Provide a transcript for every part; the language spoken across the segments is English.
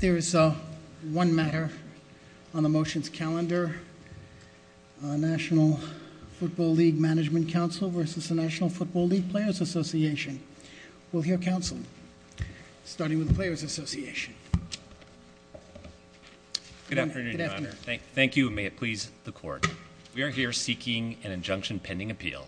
There is one matter on the motion's calendar, National Football League Management Council versus the National Football League Players Association. We'll hear counsel, starting with the Players Association. Good afternoon. Thank you. May it please the court. We are here seeking an injunction pending appeal.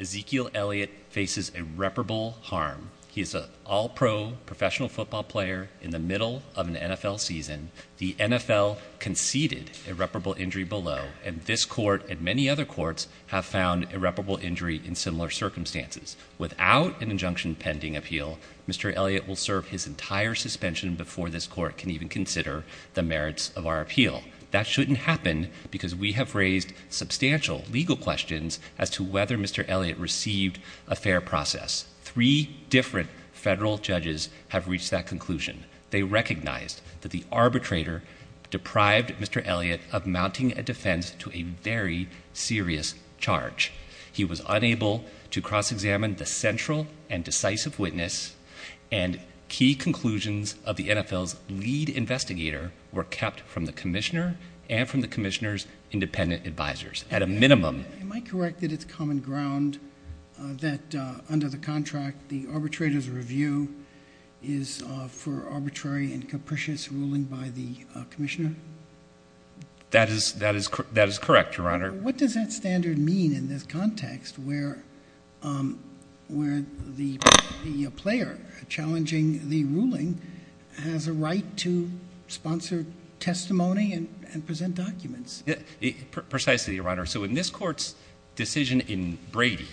Ezekiel Elliott faces irreparable harm. He is an all-pro professional football player in the middle of an NFL season. The NFL conceded irreparable injury below, and this court and many other courts have found irreparable injury in similar circumstances. Without an injunction pending appeal, Mr. Elliott will serve his entire suspension before this court can even consider the merits of our appeal. That shouldn't happen because we have raised substantial legal questions as to whether Mr. Elliott received a fair process. Three different federal judges have reached that conclusion. They recognized that the arbitrator deprived Mr. Elliott of mounting a defense to a very serious charge. He was unable to cross-examine the central and decisive witness, and key conclusions of the NFL's lead investigator were kept from the commissioner and from the commissioner's independent advisors, at a minimum. Am I correct that it's common ground that under the contract, the arbitrator's review is for arbitrary and capricious ruling by the commissioner? That is correct, Your Honor. What does that standard mean in this context where the player challenging the ruling has a right to sponsor testimony and present documents? Precisely, Your Honor. So in this court's decision in Brady,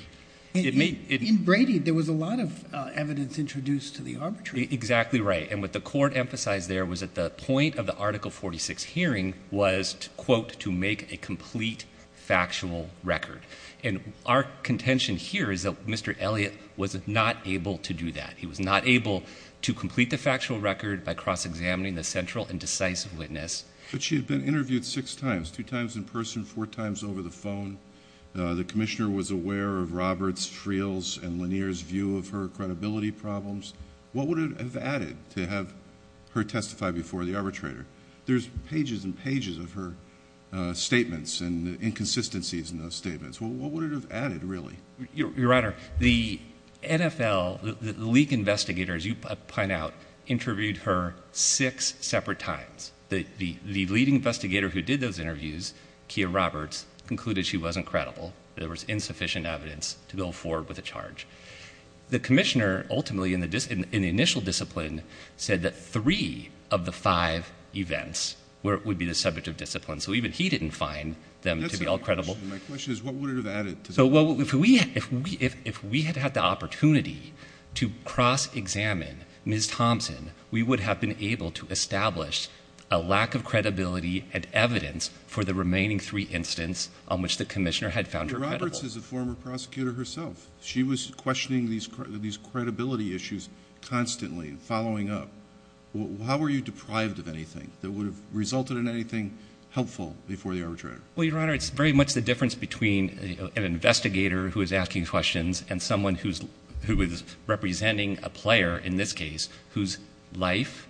it may— In Brady, there was a lot of evidence introduced to the arbitrator. Exactly right. And what the court emphasized there was at the point of the Article 46 hearing was, quote, to make a complete factual record. And our contention here is that Mr. Elliott was not able to do that. He was not able to complete the factual record by cross-examining the central and decisive witness. But she had been interviewed six times, two times in person, four times over the phone. The commissioner was aware of Roberts, Friel's, and Lanier's view of her credibility problems. What would it have added to have her testify before the arbitrator? There's pages and pages of her statements and inconsistencies in those statements. What would it have added, really? Your Honor, the NFL, the lead investigator, as you point out, interviewed her six separate times. The lead investigator who did those interviews, Kia Roberts, concluded she wasn't credible. There was insufficient evidence to go forward with a charge. The commissioner ultimately in the initial discipline said that three of the five events would be the subject of discipline. So even he didn't find them to be all credible. My question is what would it have added to that? If we had had the opportunity to cross-examine Ms. Thompson, we would have been able to establish a lack of credibility and evidence for the remaining three incidents on which the commissioner had found her credible. Roberts is a former prosecutor herself. She was questioning these credibility issues constantly and following up. How were you deprived of anything that would have resulted in anything helpful before the arbitrator? Well, Your Honor, it's very much the difference between an investigator who is asking questions and someone who is representing a player, in this case, whose life,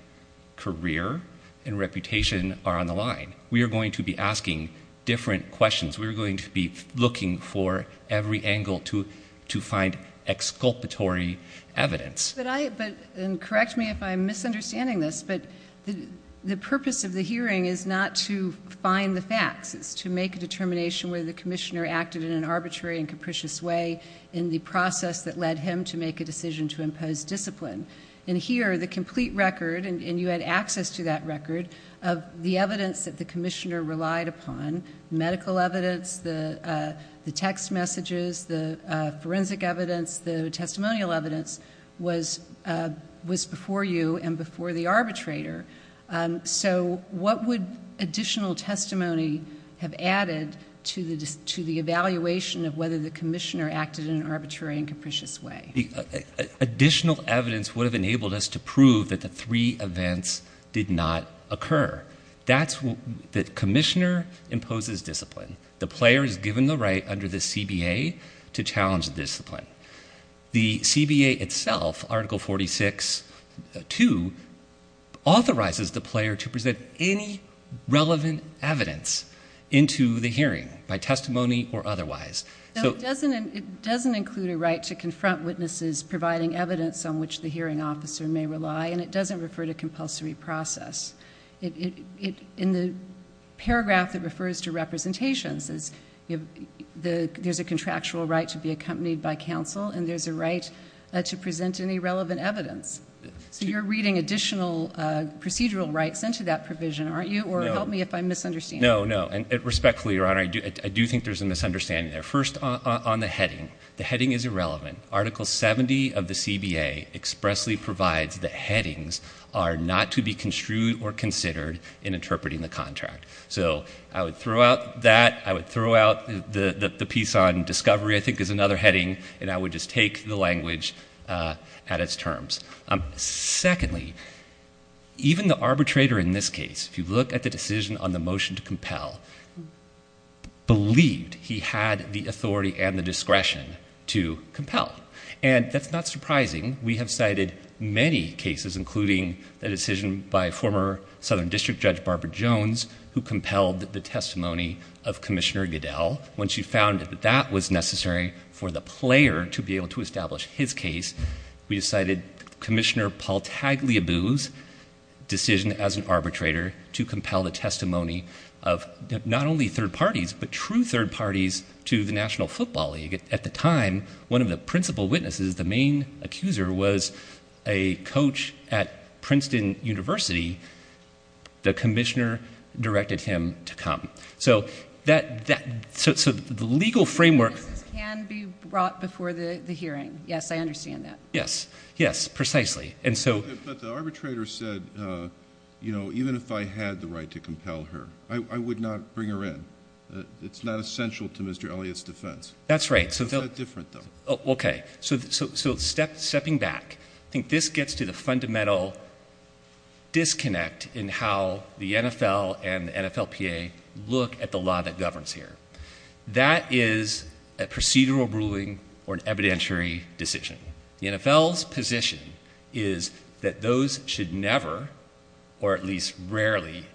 career, and reputation are on the line. We are going to be asking different questions. We are going to be looking for every angle to find exculpatory evidence. Correct me if I'm misunderstanding this, but the purpose of the hearing is not to find the facts. It's to make a determination whether the commissioner acted in an arbitrary and capricious way in the process that led him to make a decision to impose discipline. And here, the complete record, and you had access to that record, of the evidence that the commissioner relied upon, medical evidence, the text messages, the forensic evidence, the testimonial evidence, was before you and before the arbitrator. So what would additional testimony have added to the evaluation of whether the commissioner acted in an arbitrary and capricious way? Additional evidence would have enabled us to prove that the three events did not occur. That's what the commissioner imposes discipline. The player is given the right under the CBA to challenge the discipline. The CBA itself, Article 46.2, authorizes the player to present any relevant evidence into the hearing by testimony or otherwise. It doesn't include a right to confront witnesses providing evidence on which the hearing officer may rely, and it doesn't refer to compulsory process. In the paragraph that refers to representations, there's a contractual right to be accompanied by counsel, and there's a right to present any relevant evidence. So you're reading additional procedural rights into that provision, aren't you? Or help me if I'm misunderstanding. No, no. And respectfully, Your Honor, I do think there's a misunderstanding there. First, on the heading. The heading is irrelevant. Article 70 of the CBA expressly provides that headings are not to be construed or considered in interpreting the contract. So I would throw out that. I would throw out the piece on discovery I think is another heading, and I would just take the language at its terms. Secondly, even the arbitrator in this case, if you look at the decision on the motion to compel, believed he had the authority and the discretion to compel. And that's not surprising. We have cited many cases, including the decision by former Southern District Judge Barbara Jones, who compelled the testimony of Commissioner Goodell. When she found that that was necessary for the player to be able to establish his case, we cited Commissioner Paul Tagliabue's decision as an arbitrator to compel the testimony of not only third parties, but true third parties to the National Football League. At the time, one of the principal witnesses, the main accuser, was a coach at Princeton University. The commissioner directed him to come. So the legal framework— Witnesses can be brought before the hearing. Yes, I understand that. Yes. Yes, precisely. But the arbitrator said, you know, even if I had the right to compel her, I would not bring her in. It's not essential to Mr. Elliott's defense. That's right. It's not different, though. Okay. So stepping back, I think this gets to the fundamental disconnect in how the NFL and the NFLPA look at the law that governs here. That is a procedural ruling or an evidentiary decision. The NFL's position is that those should never, or at least rarely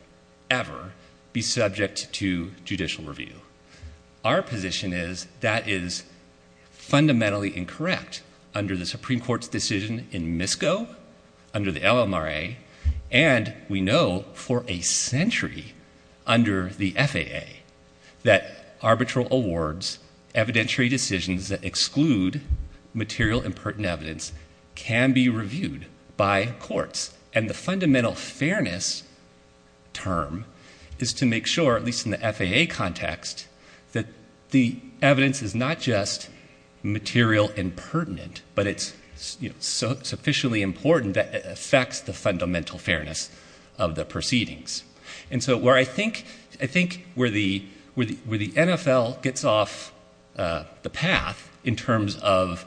ever, be subject to judicial review. Our position is that is fundamentally incorrect under the Supreme Court's decision in MISCO, under the LMRA, and we know for a century under the FAA that arbitral awards, evidentiary decisions that exclude material and pertinent evidence, can be reviewed by courts. And the fundamental fairness term is to make sure, at least in the FAA context, that the evidence is not just material and pertinent, but it's sufficiently important that it affects the fundamental fairness of the proceedings. And so where I think the NFL gets off the path in terms of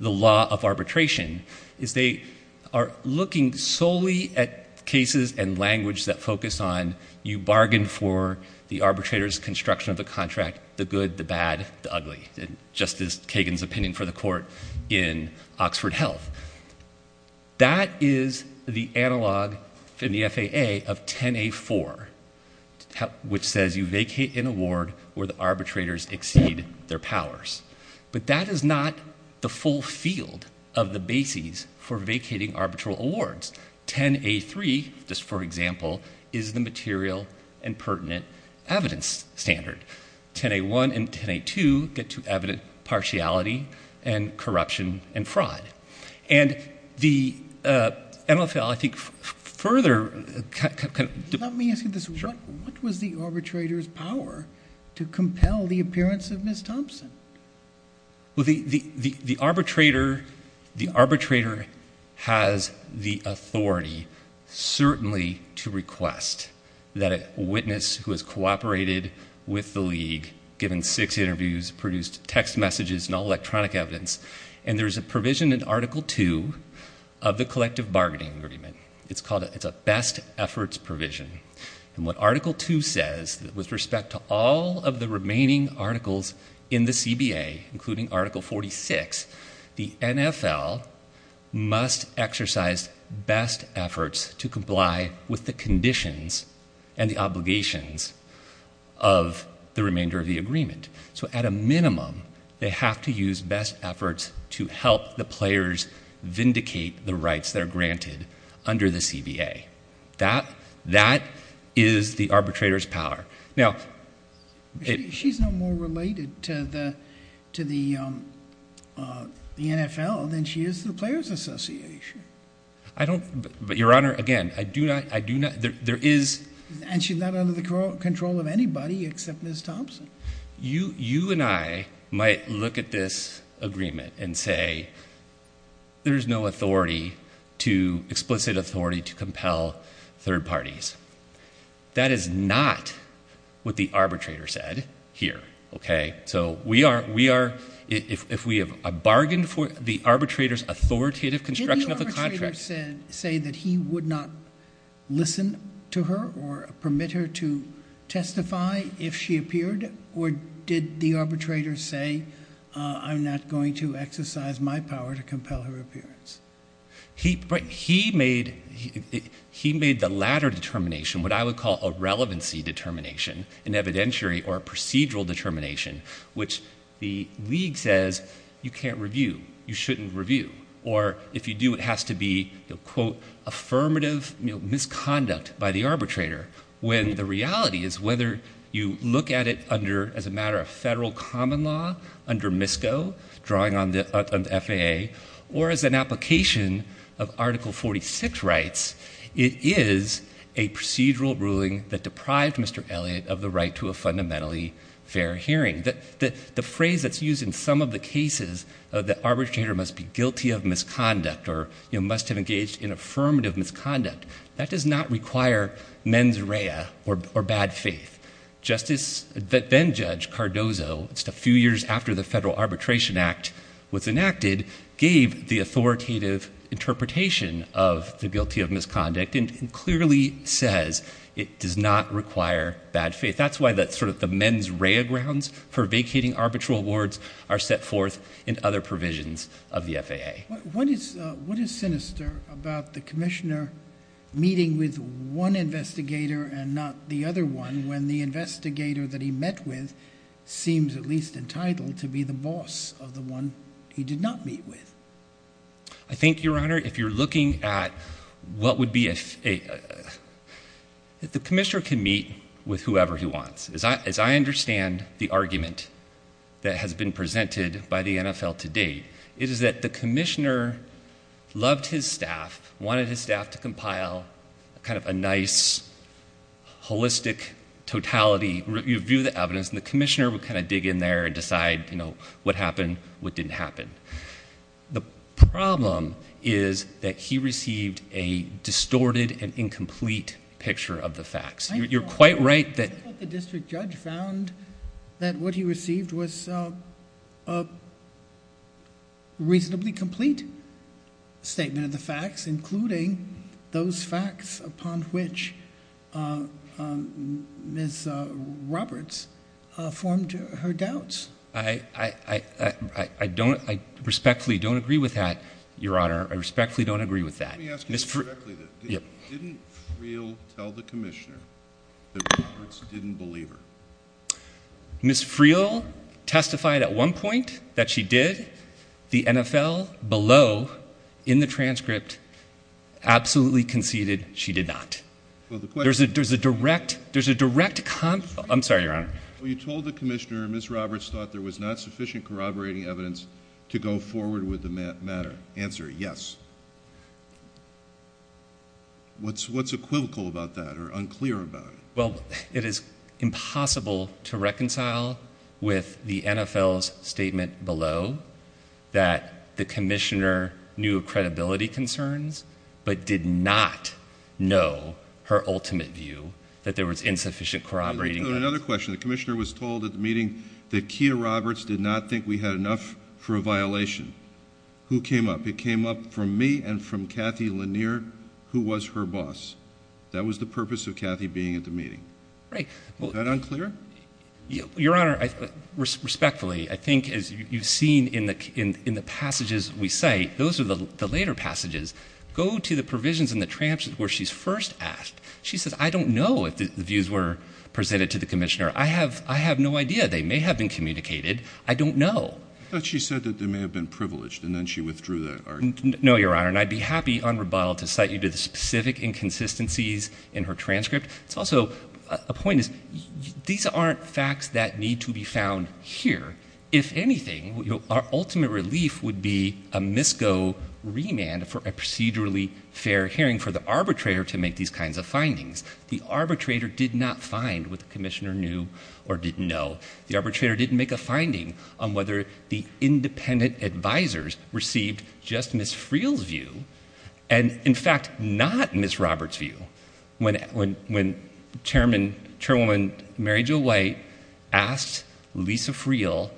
the law of arbitration is they are looking solely at cases and language that focus on, you bargain for the arbitrator's construction of the contract, the good, the bad, the ugly, just as Kagan's opinion for the court in Oxford Health. That is the analog in the FAA of 10A4, which says you vacate an award where the arbitrators exceed their powers. But that is not the full field of the bases for vacating arbitral awards. 10A3, just for example, is the material and pertinent evidence standard. 10A1 and 10A2 get to evident partiality and corruption and fraud. And the NFL, I think, further kind of- Let me ask you this. Sure. What was the arbitrator's power to compel the appearance of Ms. Thompson? Well, the arbitrator has the authority, certainly, to request that a witness who has cooperated with the league, given six interviews, produced text messages and all electronic evidence, and there is a provision in Article 2 of the collective bargaining agreement. It's a best efforts provision. And what Article 2 says, with respect to all of the remaining articles in the CBA, including Article 46, the NFL must exercise best efforts to comply with the conditions and the obligations of the remainder of the agreement. So at a minimum, they have to use best efforts to help the players vindicate the rights that are granted under the CBA. That is the arbitrator's power. Now- She's no more related to the NFL than she is to the Players Association. I don't- Your Honor, again, I do not- There is- And she's not under the control of anybody except Ms. Thompson. You and I might look at this agreement and say there is no authority to- explicit authority to compel third parties. That is not what the arbitrator said here, okay? So we are- if we have a bargain for the arbitrator's authoritative construction of a contract- Or did the arbitrator say, I'm not going to exercise my power to compel her appearance? He made the latter determination, what I would call a relevancy determination, an evidentiary or procedural determination, which the league says you can't review, you shouldn't review, or if you do, it has to be, quote, affirmative misconduct by the arbitrator when the reality is whether you look at it under, as a matter of federal common law, under MISCO, drawing on the FAA, or as an application of Article 46 rights, it is a procedural ruling that deprived Mr. Elliott of the right to a fundamentally fair hearing. The phrase that's used in some of the cases, the arbitrator must be guilty of misconduct or must have engaged in affirmative misconduct, that does not require mens rea or bad faith. Justice- then Judge Cardozo, just a few years after the Federal Arbitration Act was enacted, gave the authoritative interpretation of the guilty of misconduct and clearly says it does not require bad faith. That's why the mens rea grounds for vacating arbitral wards are set forth in other provisions of the FAA. What is sinister about the commissioner meeting with one investigator and not the other one when the investigator that he met with seems at least entitled to be the boss of the one he did not meet with? I think, Your Honor, if you're looking at what would be a- the commissioner can meet with whoever he wants. As I understand the argument that has been presented by the NFL to date, it is that the commissioner loved his staff, wanted his staff to compile kind of a nice, holistic totality, review the evidence, and the commissioner would kind of dig in there and decide, you know, what happened, what didn't happen. The problem is that he received a distorted and incomplete picture of the facts. You're quite right that- I think that the district judge found that what he received was a reasonably complete statement of the facts, including those facts upon which Ms. Roberts formed her doubts. I respectfully don't agree with that, Your Honor. I respectfully don't agree with that. Let me ask you this directly. Didn't Friel tell the commissioner that Roberts didn't believe her? Ms. Friel testified at one point that she did. The NFL below in the transcript absolutely conceded she did not. Well, the question- There's a direct- there's a direct- I'm sorry, Your Honor. Well, you told the commissioner Ms. Roberts thought there was not sufficient corroborating evidence to go forward with the matter. Answer, yes. What's equivocal about that or unclear about it? Well, it is impossible to reconcile with the NFL's statement below that the commissioner knew of credibility concerns but did not know her ultimate view that there was insufficient corroborating evidence. Another question. The commissioner was told at the meeting that Kea Roberts did not think we had enough for a violation. Who came up? It came up from me and from Kathy Lanier, who was her boss. That was the purpose of Kathy being at the meeting. Right. Was that unclear? Your Honor, respectfully, I think as you've seen in the passages we cite, those are the later passages. Go to the provisions in the transcript where she's first asked. She says, I don't know if the views were presented to the commissioner. I have no idea. They may have been communicated. I don't know. I thought she said that they may have been privileged and then she withdrew that argument. No, Your Honor, and I'd be happy on rebuttal to cite you to the specific inconsistencies in her transcript. It's also, a point is, these aren't facts that need to be found here. If anything, our ultimate relief would be a MISCO remand for a procedurally fair hearing for the arbitrator to make these kinds of findings. The arbitrator did not find what the commissioner knew or didn't know. The arbitrator didn't make a finding on whether the independent advisors received just Ms. Friel's view and, in fact, not Ms. Roberts' view. When Chairwoman Mary Jo White asked Lisa Friel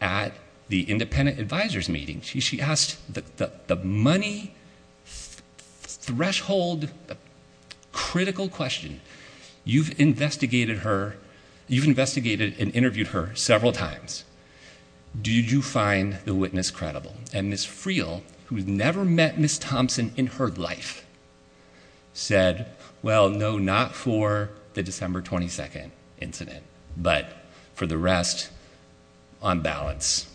at the independent advisors meeting, she asked the money threshold critical question. You've investigated her, you've investigated and interviewed her several times. Did you find the witness credible? And Ms. Friel, who had never met Ms. Thompson in her life, said, well, no, not for the December 22nd incident, but for the rest, on balance.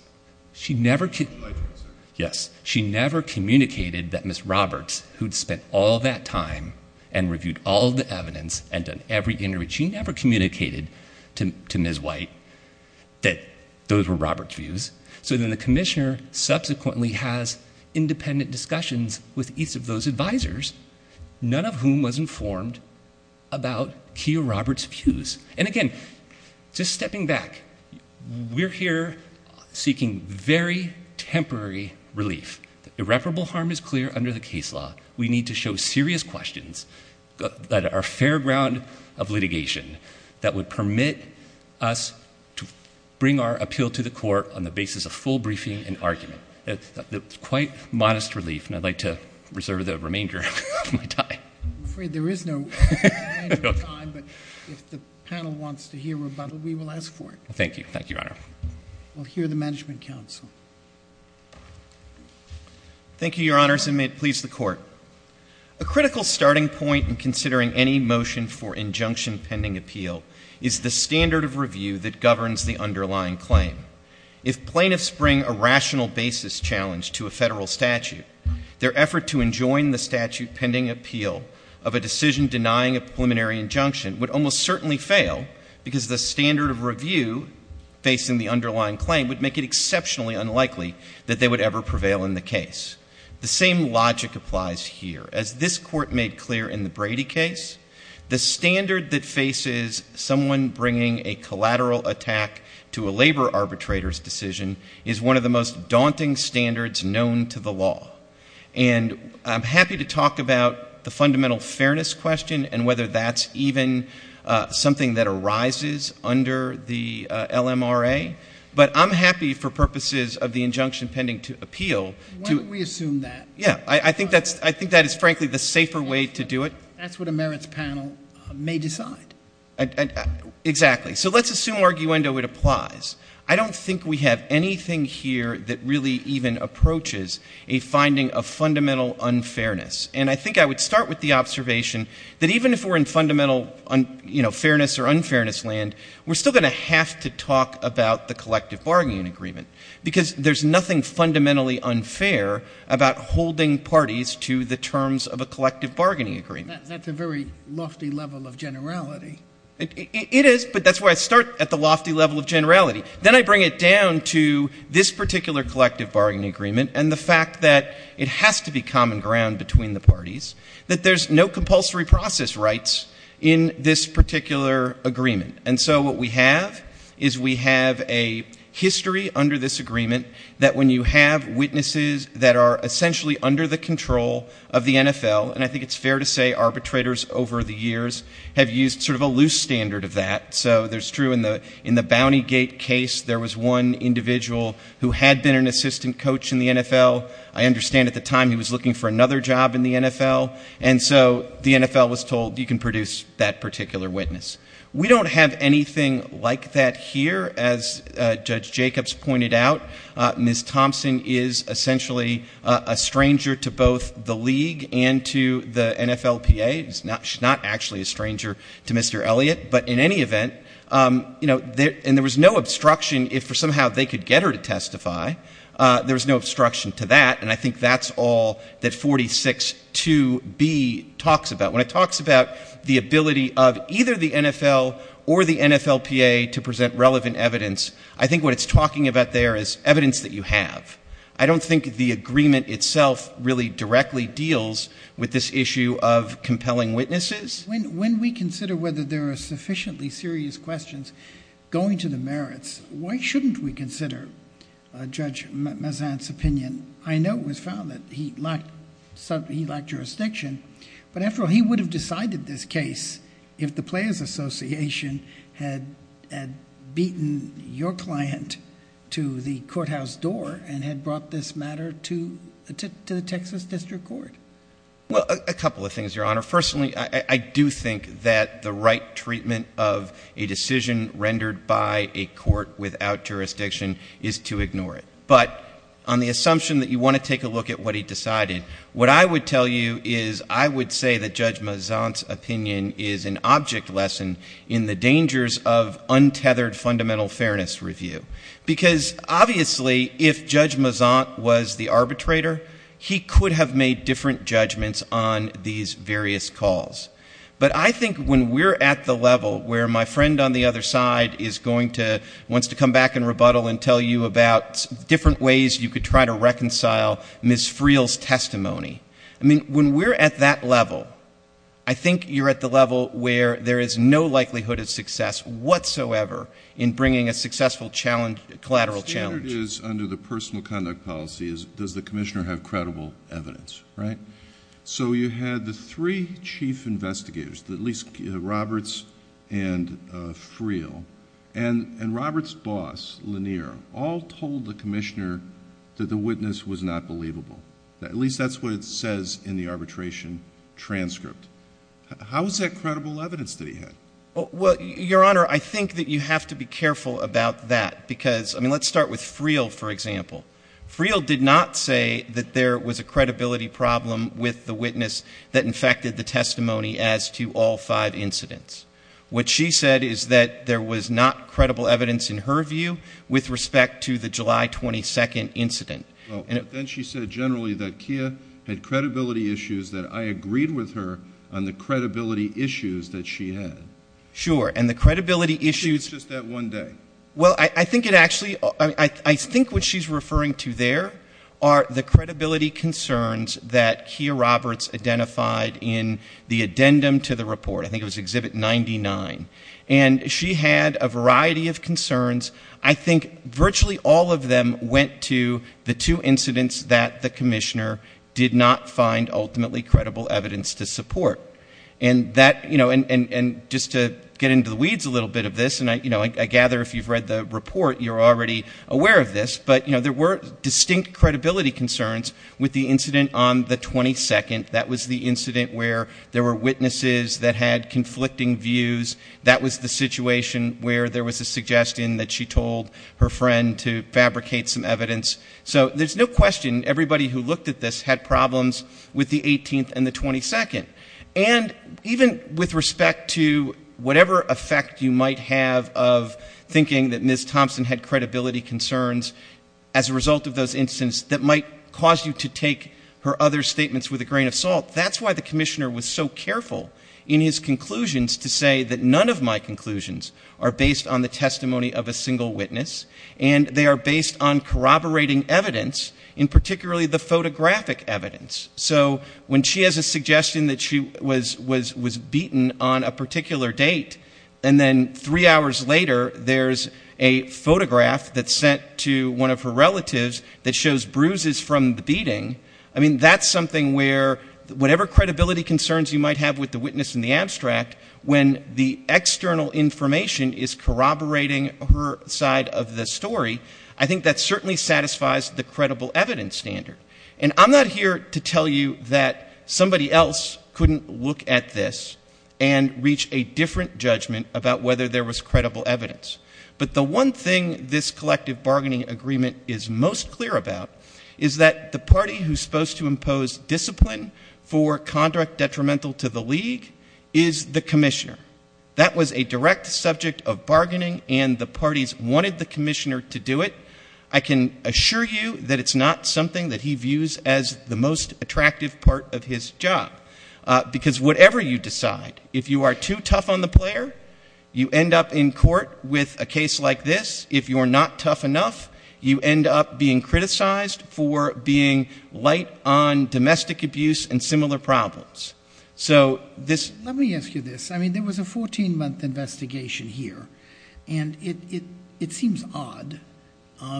She never communicated that Ms. Roberts, who'd spent all that time and reviewed all the evidence and done every interview, she never communicated to Ms. White that those were Roberts' views. So then the commissioner subsequently has independent discussions with each of those advisors, none of whom was informed about Keough Roberts' views. And again, just stepping back, we're here seeking very temporary relief. Irreparable harm is clear under the case law. We need to show serious questions that are fair ground of litigation that would permit us to bring our appeal to the court on the basis of full briefing and argument. That's quite modest relief, and I'd like to reserve the remainder of my time. I'm afraid there is no time, but if the panel wants to hear rebuttal, we will ask for it. Thank you. Thank you, Your Honor. We'll hear the Management Council. Thank you, Your Honors, and may it please the Court. A critical starting point in considering any motion for injunction pending appeal is the standard of review that governs the underlying claim. If plaintiffs bring a rational basis challenge to a federal statute, their effort to enjoin the statute pending appeal of a decision denying a preliminary injunction would almost certainly fail because the standard of review facing the underlying claim would make it exceptionally unlikely that they would ever prevail in the case. The same logic applies here. As this Court made clear in the Brady case, the standard that faces someone bringing a collateral attack to a labor arbitrator's decision is one of the most daunting standards known to the law. And I'm happy to talk about the fundamental fairness question and whether that's even something that arises under the LMRA, but I'm happy for purposes of the injunction pending appeal to— Why don't we assume that? Yeah, I think that is frankly the safer way to do it. That's what a merits panel may decide. Exactly. So let's assume arguendo it applies. I don't think we have anything here that really even approaches a finding of fundamental unfairness. And I think I would start with the observation that even if we're in fundamental fairness or unfairness land, we're still going to have to talk about the collective bargaining agreement because there's nothing fundamentally unfair about holding parties to the terms of a collective bargaining agreement. That's a very lofty level of generality. It is, but that's where I start, at the lofty level of generality. Then I bring it down to this particular collective bargaining agreement and the fact that it has to be common ground between the parties, that there's no compulsory process rights in this particular agreement. And so what we have is we have a history under this agreement that when you have witnesses that are essentially under the control of the NFL, and I think it's fair to say arbitrators over the years have used sort of a loose standard of that. So it's true in the Bounty Gate case there was one individual who had been an assistant coach in the NFL. I understand at the time he was looking for another job in the NFL, and so the NFL was told you can produce that particular witness. We don't have anything like that here. As Judge Jacobs pointed out, Ms. Thompson is essentially a stranger to both the league and to the NFLPA. She's not actually a stranger to Mr. Elliott, but in any event, you know, and there was no obstruction if somehow they could get her to testify. There was no obstruction to that, and I think that's all that 46.2b talks about. When it talks about the ability of either the NFL or the NFLPA to present relevant evidence, I think what it's talking about there is evidence that you have. I don't think the agreement itself really directly deals with this issue of compelling witnesses. When we consider whether there are sufficiently serious questions going to the merits, why shouldn't we consider Judge Mazant's opinion? I know it was found that he lacked jurisdiction, but after all, he would have decided this case if the Players Association had beaten your client to the courthouse door and had brought this matter to the Texas District Court. Well, a couple of things, Your Honor. Firstly, I do think that the right treatment of a decision rendered by a court without jurisdiction is to ignore it. But on the assumption that you want to take a look at what he decided, what I would tell you is I would say that Judge Mazant's opinion is an object lesson in the dangers of untethered fundamental fairness review, because obviously if Judge Mazant was the arbitrator, he could have made different judgments on these various calls. But I think when we're at the level where my friend on the other side is going to, wants to come back and rebuttal and tell you about different ways you could try to reconcile Ms. Friel's testimony, I mean, when we're at that level, I think you're at the level where there is no likelihood of success whatsoever in bringing a successful challenge, collateral challenge. The standard is under the personal conduct policy is does the commissioner have credible evidence, right? So you had the three chief investigators, at least Roberts and Friel, and Roberts' boss, Lanier, all told the commissioner that the witness was not believable. At least that's what it says in the arbitration transcript. How is that credible evidence that he had? Well, Your Honor, I think that you have to be careful about that, because, I mean, let's start with Friel, for example. Friel did not say that there was a credibility problem with the witness that infected the testimony as to all five incidents. What she said is that there was not credible evidence, in her view, with respect to the July 22nd incident. Then she said generally that Kia had credibility issues, that I agreed with her on the credibility issues that she had. Sure, and the credibility issues. She was just at one day. Well, I think what she's referring to there are the credibility concerns that Kia Roberts identified in the addendum to the report. I think it was Exhibit 99. And she had a variety of concerns. I think virtually all of them went to the two incidents that the commissioner did not find ultimately credible evidence to support. And just to get into the weeds a little bit of this, and I gather if you've read the report, you're already aware of this, but there were distinct credibility concerns with the incident on the 22nd. That was the incident where there were witnesses that had conflicting views. That was the situation where there was a suggestion that she told her friend to fabricate some evidence. So there's no question everybody who looked at this had problems with the 18th and the 22nd. And even with respect to whatever effect you might have of thinking that Ms. Thompson had credibility concerns, as a result of those incidents, that might cause you to take her other statements with a grain of salt, that's why the commissioner was so careful in his conclusions to say that none of my conclusions are based on the testimony of a single witness, and they are based on corroborating evidence, and particularly the photographic evidence. So when she has a suggestion that she was beaten on a particular date, and then three hours later there's a photograph that's sent to one of her relatives that shows bruises from the beating, I mean, that's something where whatever credibility concerns you might have with the witness in the abstract, when the external information is corroborating her side of the story, I think that certainly satisfies the credible evidence standard. And I'm not here to tell you that somebody else couldn't look at this and reach a different judgment about whether there was credible evidence. But the one thing this collective bargaining agreement is most clear about is that the party who's supposed to impose discipline for conduct detrimental to the league is the commissioner. That was a direct subject of bargaining, and the parties wanted the commissioner to do it. I can assure you that it's not something that he views as the most attractive part of his job, because whatever you decide, if you are too tough on the player, you end up in court with a case like this. If you are not tough enough, you end up being criticized for being light on domestic abuse and similar problems. Let me ask you this. I mean, there was a 14-month investigation here, and it seems odd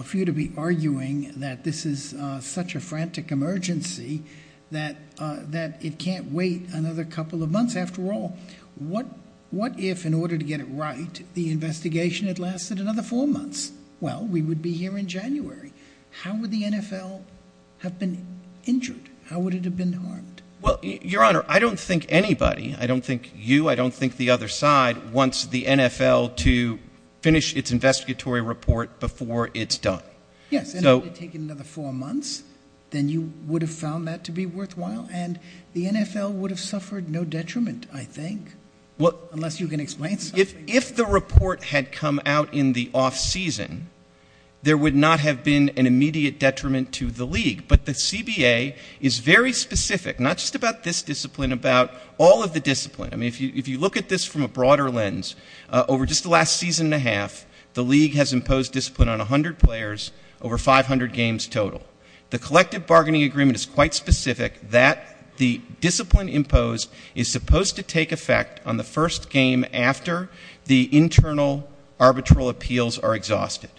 for you to be arguing that this is such a frantic emergency that it can't wait another couple of months after all. What if, in order to get it right, the investigation had lasted another four months? Well, we would be here in January. How would the NFL have been injured? How would it have been harmed? Well, Your Honor, I don't think anybody, I don't think you, I don't think the other side, wants the NFL to finish its investigatory report before it's done. Yes, and if it had taken another four months, then you would have found that to be worthwhile, and the NFL would have suffered no detriment, I think, unless you can explain something. If the report had come out in the off-season, there would not have been an immediate detriment to the league. But the CBA is very specific, not just about this discipline, about all of the discipline. I mean, if you look at this from a broader lens, over just the last season and a half, the league has imposed discipline on 100 players over 500 games total. The collective bargaining agreement is quite specific that the discipline imposed is supposed to take effect on the first game after the internal arbitral appeals are exhausted.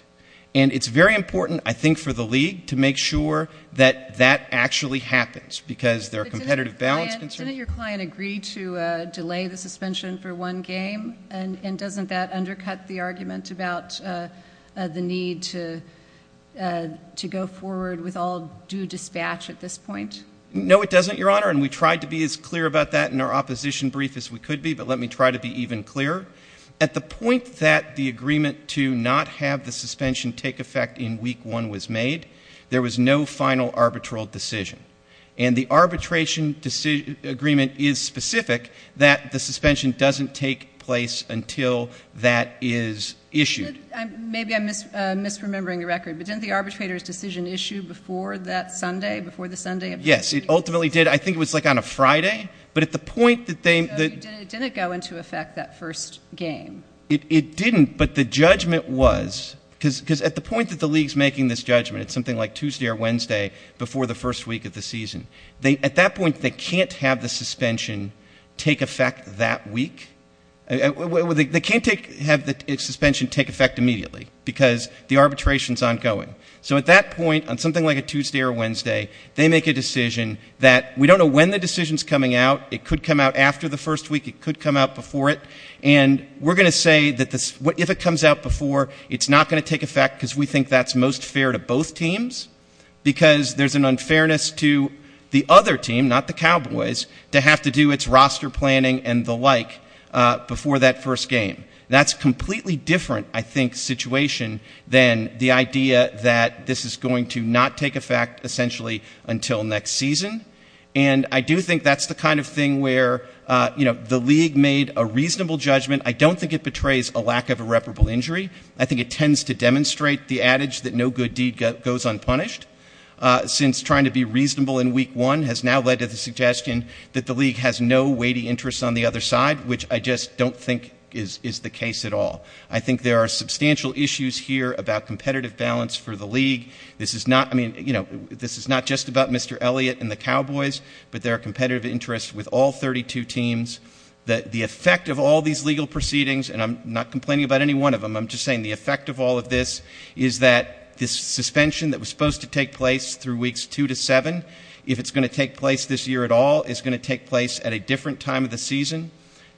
And it's very important, I think, for the league to make sure that that actually happens because there are competitive balance concerns. But didn't your client agree to delay the suspension for one game? And doesn't that undercut the argument about the need to go forward with all due dispatch at this point? No, it doesn't, Your Honor, and we tried to be as clear about that in our opposition brief as we could be, but let me try to be even clearer. At the point that the agreement to not have the suspension take effect in Week 1 was made, there was no final arbitral decision. And the arbitration agreement is specific that the suspension doesn't take place until that is issued. Maybe I'm misremembering the record, but didn't the arbitrator's decision issue before that Sunday, before the Sunday of the week? Yes, it ultimately did. I think it was, like, on a Friday. So it didn't go into effect that first game. It didn't, but the judgment was, because at the point that the league is making this judgment, it's something like Tuesday or Wednesday before the first week of the season, at that point they can't have the suspension take effect that week. They can't have the suspension take effect immediately because the arbitration is ongoing. So at that point, on something like a Tuesday or Wednesday, they make a decision that we don't know when the decision is coming out. It could come out after the first week. It could come out before it. And we're going to say that if it comes out before, it's not going to take effect because we think that's most fair to both teams because there's an unfairness to the other team, not the Cowboys, to have to do its roster planning and the like before that first game. That's a completely different, I think, situation than the idea that this is going to not take effect, essentially, until next season. And I do think that's the kind of thing where, you know, the league made a reasonable judgment. I don't think it betrays a lack of irreparable injury. I think it tends to demonstrate the adage that no good deed goes unpunished, since trying to be reasonable in week one has now led to the suggestion that the league has no weighty interest on the other side, which I just don't think is the case at all. I think there are substantial issues here about competitive balance for the league. This is not, I mean, you know, this is not just about Mr. Elliott and the Cowboys, but there are competitive interests with all 32 teams. The effect of all these legal proceedings, and I'm not complaining about any one of them, I'm just saying the effect of all of this is that this suspension that was supposed to take place through weeks two to seven, if it's going to take place this year at all, is going to take place at a different time of the season.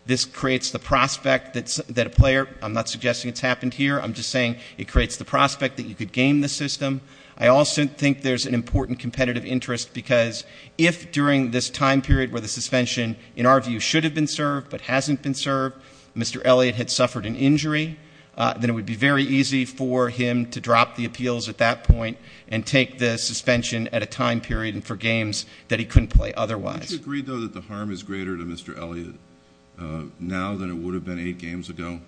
This creates the prospect that a player, I'm not suggesting it's happened here, I'm just saying it creates the prospect that you could game the system. I also think there's an important competitive interest because if during this time period where the suspension, in our view, should have been served but hasn't been served, Mr. Elliott had suffered an injury, then it would be very easy for him to drop the appeals at that point and take the suspension at a time period for games that he couldn't play otherwise. Would you agree, though, that the harm is greater to Mr. Elliott now than it would have been eight games ago?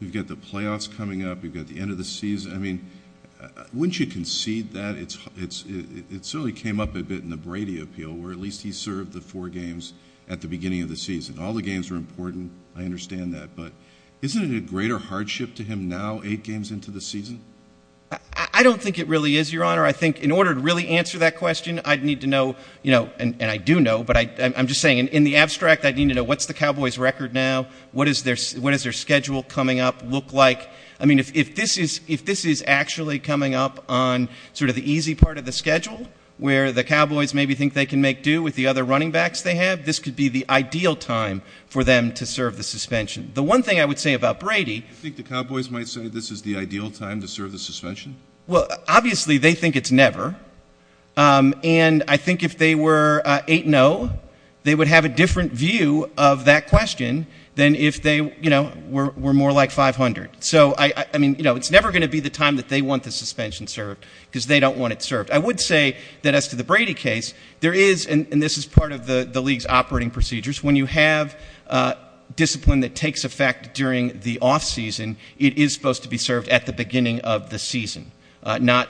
You've got the playoffs coming up. You've got the end of the season. I mean, wouldn't you concede that it certainly came up a bit in the Brady appeal where at least he served the four games at the beginning of the season. All the games were important. I understand that. But isn't it a greater hardship to him now, eight games into the season? I don't think it really is, Your Honor. I think in order to really answer that question, I'd need to know, and I do know, but I'm just saying in the abstract I'd need to know what's the Cowboys' record now, what is their schedule coming up look like. I mean, if this is actually coming up on sort of the easy part of the schedule where the Cowboys maybe think they can make do with the other running backs they have, this could be the ideal time for them to serve the suspension. The one thing I would say about Brady — Do you think the Cowboys might say this is the ideal time to serve the suspension? Well, obviously they think it's never, and I think if they were 8-0, they would have a different view of that question than if they were more like 500. So, I mean, it's never going to be the time that they want the suspension served because they don't want it served. I would say that as to the Brady case, there is, and this is part of the league's operating procedures, when you have discipline that takes effect during the offseason, it is supposed to be served at the beginning of the season, not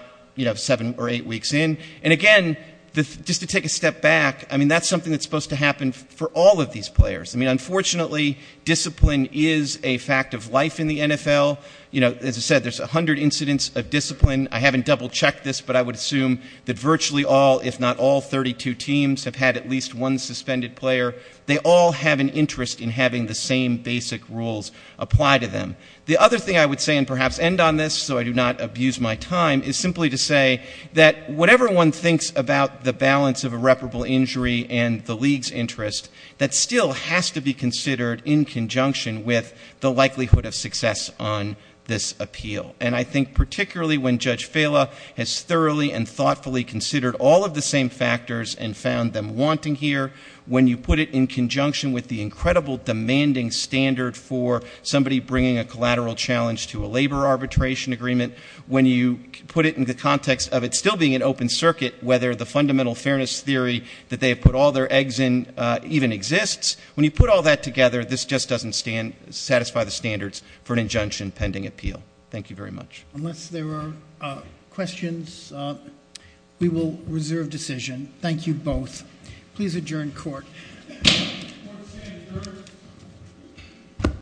seven or eight weeks in. And, again, just to take a step back, I mean, that's something that's supposed to happen for all of these players. I mean, unfortunately, discipline is a fact of life in the NFL. As I said, there's 100 incidents of discipline. I haven't double-checked this, but I would assume that virtually all, all 32 teams have had at least one suspended player. They all have an interest in having the same basic rules apply to them. The other thing I would say, and perhaps end on this so I do not abuse my time, is simply to say that whatever one thinks about the balance of irreparable injury and the league's interest, that still has to be considered in conjunction with the likelihood of success on this appeal. And I think particularly when Judge Fela has thoroughly and thoughtfully considered all of the same factors and found them wanting here, when you put it in conjunction with the incredible demanding standard for somebody bringing a collateral challenge to a labor arbitration agreement, when you put it in the context of it still being an open circuit, whether the fundamental fairness theory that they have put all their eggs in even exists, when you put all that together, this just doesn't satisfy the standards for an injunction pending appeal. Thank you very much. Unless there are questions, we will reserve decision. Thank you both. Please adjourn court.